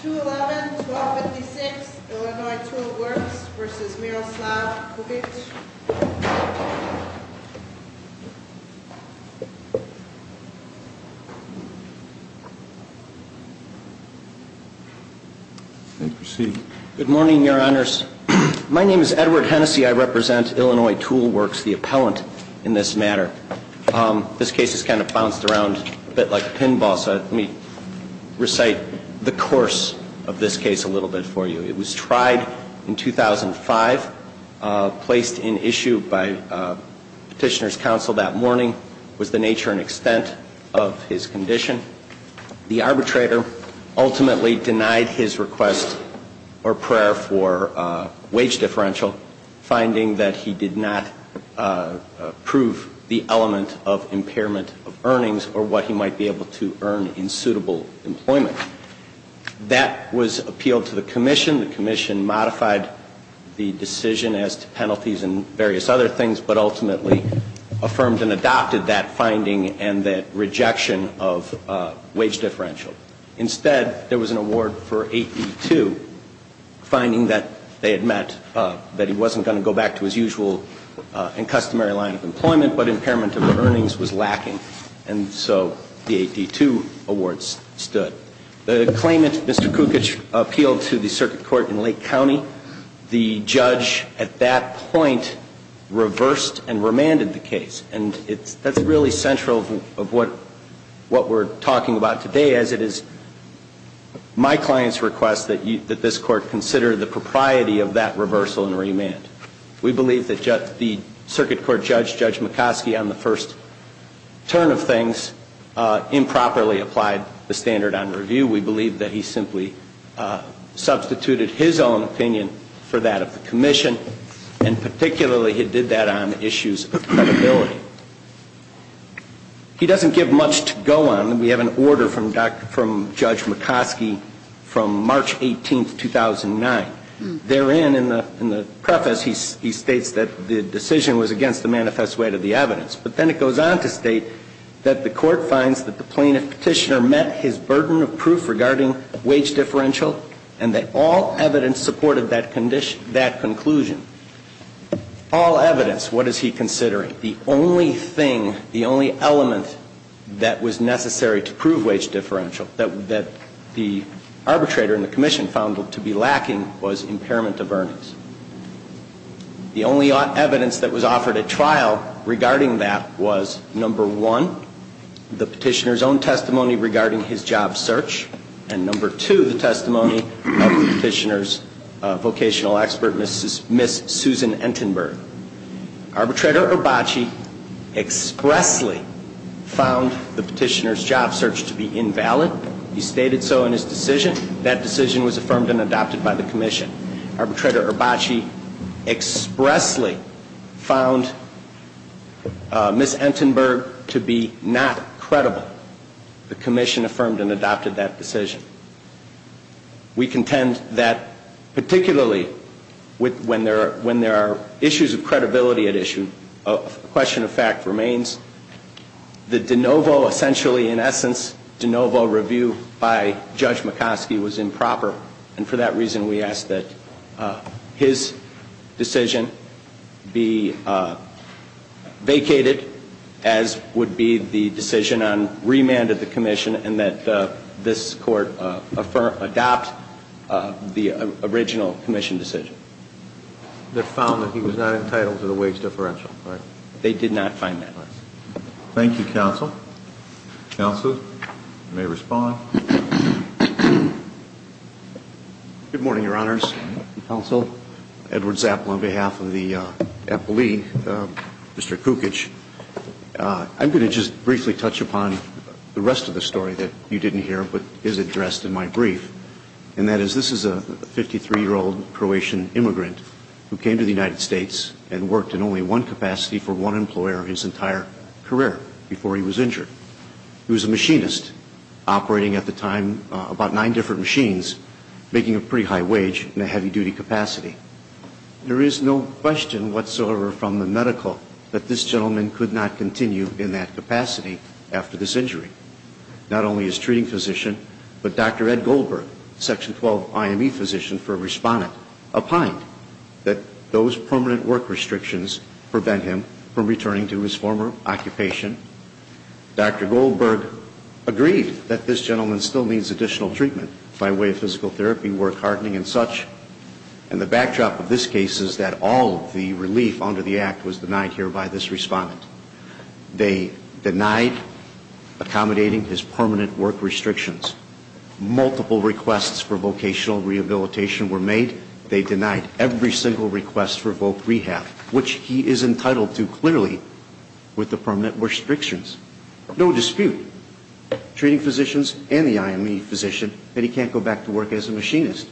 211-1256, Illinois Tool Works v. Miroslav Kovic. Good morning, your honors. My name is Edward Hennessy. I represent Illinois Tool Works, the appellant in this matter. This case has kind of bounced around a bit like a pinball, so let me recite the course of this case a little bit for you. It was tried in 2005, placed in issue by Petitioner's Counsel that morning, was the nature and extent of his condition. The arbitrator ultimately denied his request or prayer for wage differential, finding that he did not approve the arbitration. He also denied the element of impairment of earnings or what he might be able to earn in suitable employment. That was appealed to the Commission. The Commission modified the decision as to penalties and various other things, but ultimately affirmed and adopted that finding and that rejection of wage differential. Instead, there was an award for 8E2, finding that they had met, that he wasn't going to go back to his usual and customary line of work, and that the element of earnings was lacking. And so the 8E2 awards stood. The claimant, Mr. Kukic, appealed to the Circuit Court in Lake County. The judge at that point reversed and remanded the case. And that's really central of what we're talking about today, as it is my client's request that this Court consider the propriety of that case, and that's what we're talking about today. Mr. Kukic's first turn of things improperly applied the standard on review. We believe that he simply substituted his own opinion for that of the Commission, and particularly he did that on issues of credibility. He doesn't give much to go on. We have an order from Judge McCoskey from March 18, 2009. Therein, in the preface, he states that the decision was against the manifest weight of the evidence. But then it goes on to state that the Court finds that the plaintiff petitioner met his burden of proof regarding wage differential, and that all evidence supported that conclusion. All evidence, what is he considering? The only thing, the only element that was necessary to prove wage differential that the arbitrator and the Commission found to be lacking was impairment of earnings. The only evidence that was offered at trial regarding that was, number one, the petitioner's own testimony regarding his job search, and number two, the testimony of the petitioner's vocational expert, Ms. Susan Entenberg. Arbitrator Urbacci expressly found the petitioner's job search to be invalid. He stated so in his decision. That decision was affirmed and adopted by the Commission. Arbitrator Urbacci expressly found Ms. Entenberg to be not credible. The Commission affirmed and adopted that decision. We contend that particularly when there are issues of credibility at issue, a question of fact remains. The de novo, essentially, in essence, de novo review by Judge McCoskey was improper, and for that reason we ask that his decision be vacated, as would be the decision on remand of the Commission, and that this Court adopt the original Commission decision. Thank you, Counsel. Counsel, you may respond. Good morning, Your Honors, Counsel, Edward Zapp on behalf of the appellee, Mr. Kukic. I'm going to just briefly touch upon the rest of the story that you didn't hear, but is addressed in my brief, and that is this is a 53-year-old Croatian immigrant. He came to the United States and worked in only one capacity for one employer his entire career before he was injured. He was a machinist, operating at the time about nine different machines, making a pretty high wage in a heavy-duty capacity. There is no question whatsoever from the medical that this gentleman could not continue in that capacity after this injury. Not only his treating physician, but Dr. Ed Goldberg, Section 12 IME physician for a respondent, opined that those permanent work restrictions prevent him from returning to his former occupation. Dr. Goldberg agreed that this gentleman still needs additional treatment by way of physical therapy, work hardening, and such, and the backdrop of this case is that all of the relief under the Act was denied here by this respondent. They denied accommodating his permanent work restrictions. Multiple requests for vocational rehabilitation were made. They denied every single request for voc rehab, which he is entitled to clearly with the permanent restrictions. No dispute, treating physicians and the IME physician, that he can't go back to work as a machinist.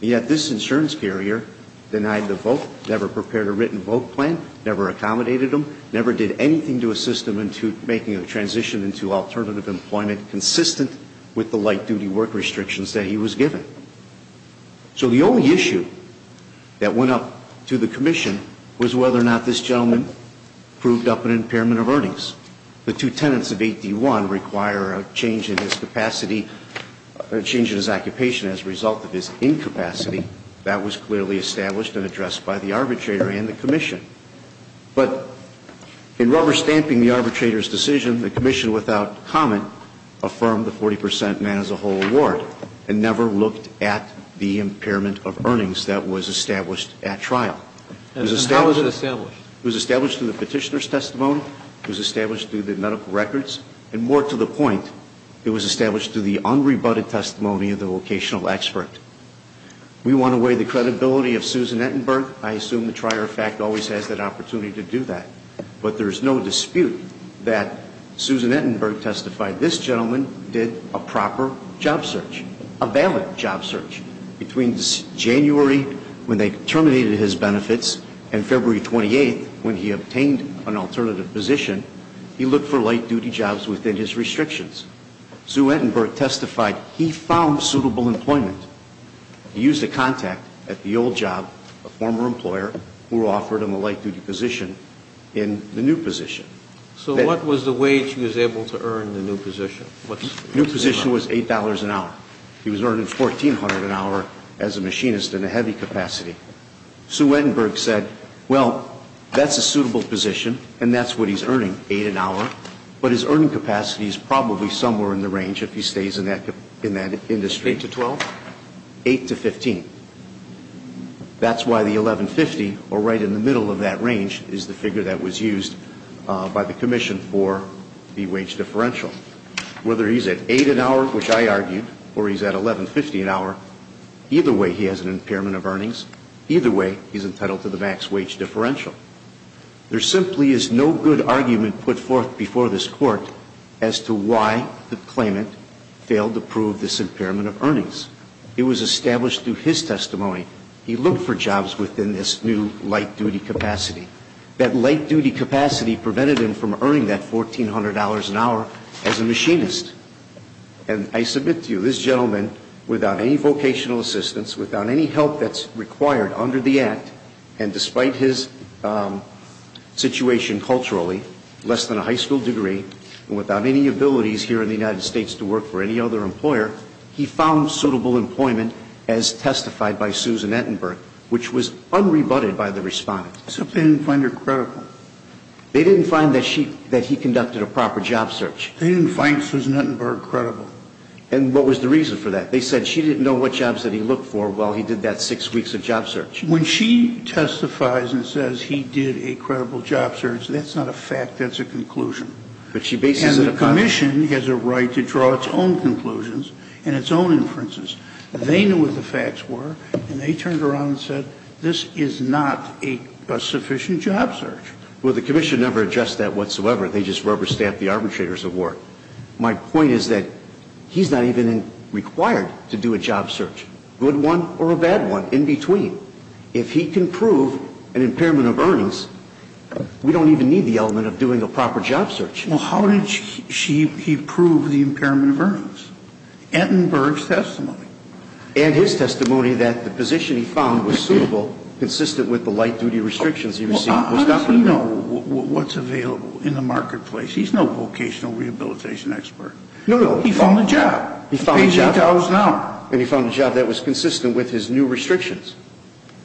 Yet this insurance carrier denied the vote, never prepared a written vote plan, never accommodated him, never did anything to assist him into making a transition into alternative employment consistent with the light-duty work restrictions that he was given. So the only issue that went up to the Commission was whether or not this gentleman proved up an impairment of earnings. The two tenants of 8D1 require a change in his capacity, a change in his occupation as a result of his incapacity. That was clearly established and addressed by the arbitrator and the Commission. But in rubber-stamping the arbitrator's decision, the Commission, without comment, affirmed the 40 percent man-as-a-whole award and never looked at the impairment of earnings that was established at trial. It was established through the petitioner's testimony. It was established through the medical records. And more to the point, it was established through the unrebutted testimony of the vocational expert. We want to weigh the credibility of Susan Ettenberg. I assume the trier of fact always has that opportunity to do that. But there is no dispute that Susan Ettenberg testified this gentleman did a proper job search, a valid job search, between January when they terminated his benefits and January when they terminated his benefits. And February 28th, when he obtained an alternative position, he looked for light-duty jobs within his restrictions. Sue Ettenberg testified he found suitable employment. He used a contact at the old job, a former employer, who offered him a light-duty position in the new position. So what was the wage he was able to earn in the new position? New position was $8 an hour. He was earning $1,400 an hour as a machinist in a heavy capacity. Sue Ettenberg said, well, that's a suitable position, and that's what he's earning, $8 an hour. But his earning capacity is probably somewhere in the range if he stays in that industry. Eight to 12? Eight to 15. That's why the $1,150, or right in the middle of that range, is the figure that was used by the commission for the wage differential. Whether he's at $8 an hour, which I argued, or he's at $1,150 an hour, either way he has an impairment of earnings. Either way, he's entitled to the max wage differential. There simply is no good argument put forth before this Court as to why the claimant failed to prove this impairment of earnings. It was established through his testimony. He looked for jobs within this new light-duty capacity. That light-duty capacity prevented him from earning that $1,400 an hour as a machinist. And I submit to you, this gentleman, without any vocational assistance, without any help that's required under the Act, and despite his situation culturally, less than a high school degree, and without any abilities here in the United States to work for any other employer, he found suitable employment as testified by Susan Ettenberg, which was unrebutted by the Respondent. Except they didn't find her credible. They didn't find that he conducted a proper job search. They didn't find Susan Ettenberg credible. And what was the reason for that? They said she didn't know what jobs that he looked for while he did that six weeks of job search. When she testifies and says he did a credible job search, that's not a fact, that's a conclusion. And the Commission has a right to draw its own conclusions and its own inferences. They knew what the facts were, and they turned around and said, this is not a sufficient job search. Well, the Commission never addressed that whatsoever. They just rubber-staffed the arbitrators of war. My point is that he's not even required to do a job search, good one or a bad one, in between. If he can prove an impairment of earnings, we don't even need the element of doing a proper job search. Well, how did he prove the impairment of earnings? Ettenberg's testimony. And his testimony that the position he found was suitable, consistent with the light-duty restrictions he received. Well, how does he know what's available in the marketplace? He's no vocational rehabilitation expert. No, no. He found a job. He found a job. He paid $8 an hour. And he found a job that was consistent with his new restrictions.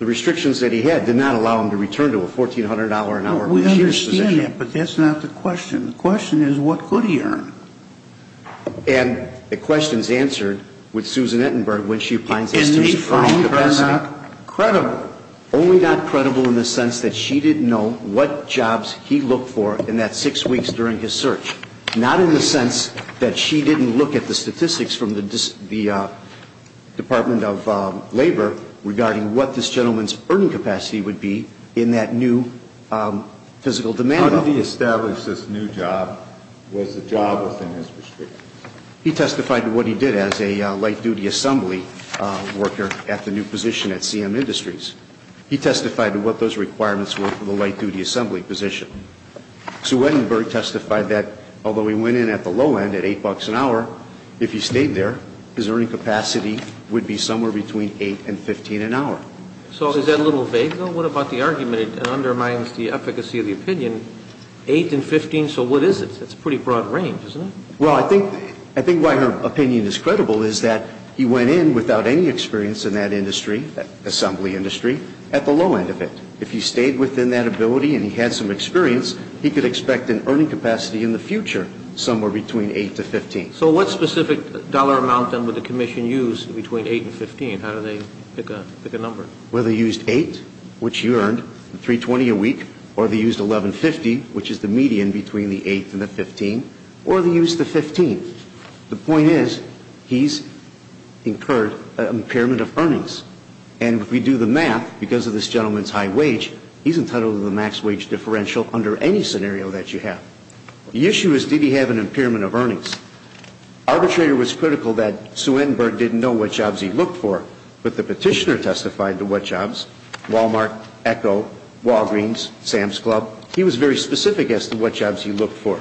The restrictions that he had did not allow him to return to a $1,400-an-hour-a-year position. Well, we understand that, but that's not the question. The question is, what could he earn? And the question is answered with Susan Ettenberg when she finds Estes' earnings capacity. And they found her not credible. Only not credible in the sense that she didn't know what jobs he looked for in that six weeks during his search. Not in the sense that she didn't look at the statistics from the Department of Labor regarding what this gentleman's earning capacity would be in that new physical demand. How did he establish this new job? Was the job within his restrictions? He testified to what he did as a light-duty assembly worker at the new position at CM Industries. He testified to what those requirements were for the light-duty assembly position. Sue Ettenberg testified that although he went in at the low end at $8 an hour, if he stayed there, his earning capacity would be somewhere between $8 and $15 an hour. So is that a little vague, though? What about the argument it undermines the efficacy of the opinion, $8 and $15? So what is it? That's a pretty broad range, isn't it? Well, I think why her opinion is credible is that he went in without any experience in that industry, that assembly industry, at the low end of it. If he stayed within that ability and he had some experience, he could expect an earning capacity in the future somewhere between $8 to $15. So what specific dollar amount, then, would the commission use between $8 and $15? I mean, how do they pick a number? Well, they used $8, which you earned, $3.20 a week. Or they used $11.50, which is the median between the $8 and the $15. Or they used the $15. The point is, he's incurred an impairment of earnings. And if we do the math, because of this gentleman's high wage, he's entitled to the max wage differential under any scenario that you have. The issue is, did he have an impairment of earnings? Arbitrator was critical that Sue Entenberg didn't know what jobs he looked for, but the petitioner testified to what jobs, Walmart, Echo, Walgreens, Sam's Club. He was very specific as to what jobs he looked for.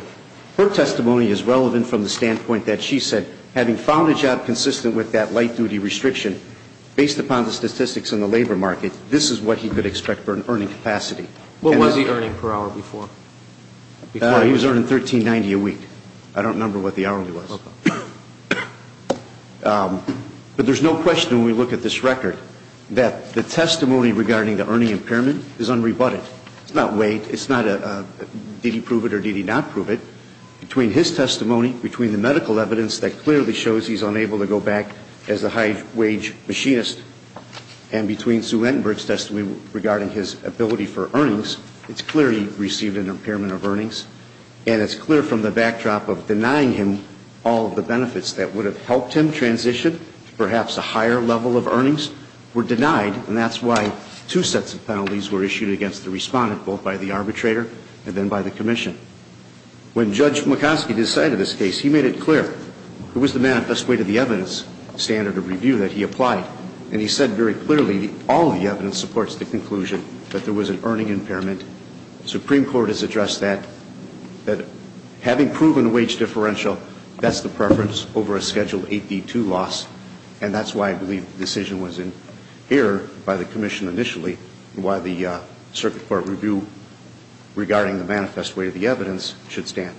Her testimony is relevant from the standpoint that she said, having found a job consistent with that light-duty restriction, based upon the statistics in the labor market, this is what he could expect for an earning capacity. What was he earning per hour before? He was earning $13.90 a week. I don't remember what the hourly was. But there's no question, when we look at this record, that the testimony regarding the earning impairment is unrebutted. It's not weight. It's not did he prove it or did he not prove it. Between his testimony, between the medical evidence that clearly shows he's unable to go back as a high-wage machinist, and between Sue Entenberg's testimony regarding his ability for earnings, it's clear he received an impairment of earnings. And it's clear from the backdrop of denying him all of the benefits that would have helped him transition, perhaps a higher level of earnings, were denied. And that's why two sets of penalties were issued against the respondent, both by the arbitrator and then by the commission. When Judge McCoskey decided this case, he made it clear. It was the manifest weight of the evidence standard of review that he applied. And he said very clearly, all of the evidence supports the conclusion that there was an earning impairment. And the Supreme Court has addressed that. That having proven a wage differential, that's the preference over a Schedule 8D2 loss. And that's why I believe the decision was in error by the commission initially, and why the circuit court review regarding the manifest weight of the evidence should stand.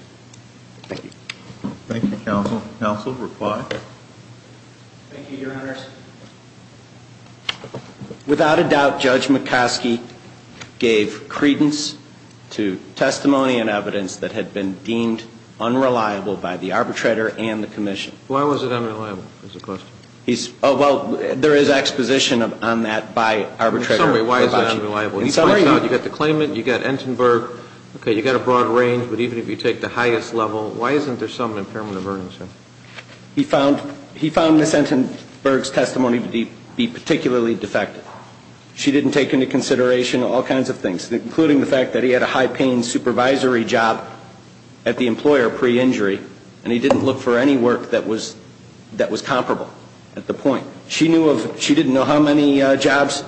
Thank you. Thank you, counsel. Counsel, reply. Thank you, Your Honors. Without a doubt, Judge McCoskey gave credence to testimony and evidence that had been deemed unreliable by the arbitrator and the commission. Why was it unreliable is the question. Oh, well, there is exposition on that by arbitrator. In some way, why is it unreliable? He points out you've got the claimant, you've got Entenberg. Okay, you've got a broad range. But even if you take the highest level, why isn't there some impairment of earnings here? He found Ms. Entenberg's testimony to be particularly defective. She didn't take into consideration all kinds of things, including the fact that he had a high-paying supervisory job at the employer pre-injury, and he didn't look for any work that was comparable at the point. She didn't know how many jobs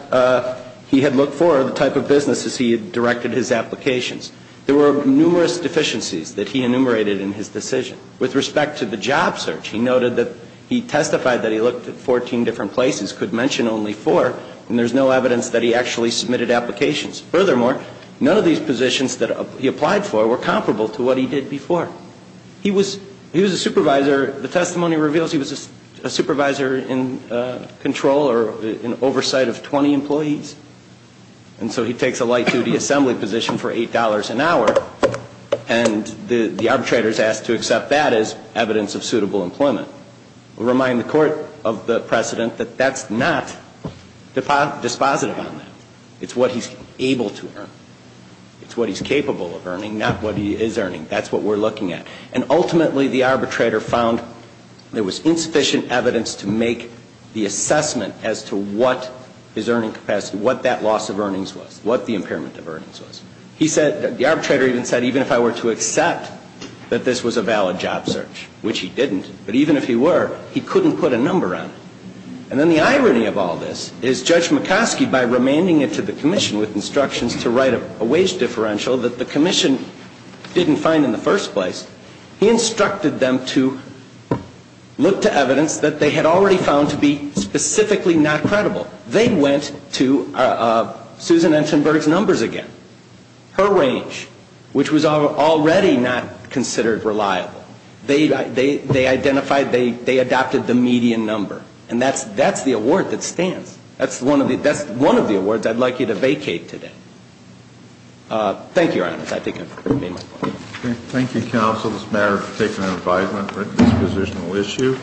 he had looked for, the type of businesses he had directed his applications. There were numerous deficiencies that he enumerated in his decision. With respect to the job search, he noted that he testified that he looked at 14 different places, could mention only four, and there's no evidence that he actually submitted applications. Furthermore, none of these positions that he applied for were comparable to what he did before. He was a supervisor. The testimony reveals he was a supervisor in control or in oversight of 20 employees, and so he takes a light-duty assembly position for $8 an hour, and the arbitrator is asked to accept that as evidence of suitable employment. We'll remind the court of the precedent that that's not dispositive on that. It's what he's able to earn. It's what he's capable of earning, not what he is earning. That's what we're looking at. And ultimately, the arbitrator found there was insufficient evidence to make the assessment as to what his earning capacity, what that loss of earnings was, what the impairment of earnings was. He said, the arbitrator even said, even if I were to accept that this was a valid job search, which he didn't, but even if he were, he couldn't put a number on it. And then the irony of all this is Judge McCoskey, by remanding it to the commission with instructions to write a wage differential that the commission didn't find in the first place, he instructed them to look to evidence that they had already found to be specifically not credible. They went to Susan Entenberg's numbers again, her range, which was already not considered reliable. They identified, they adopted the median number. And that's the award that stands. That's one of the awards I'd like you to vacate today. Thank you, Your Honors. I think I've made my point. Thank you, Counsel, this matter has taken an advisement on a dispositional issue.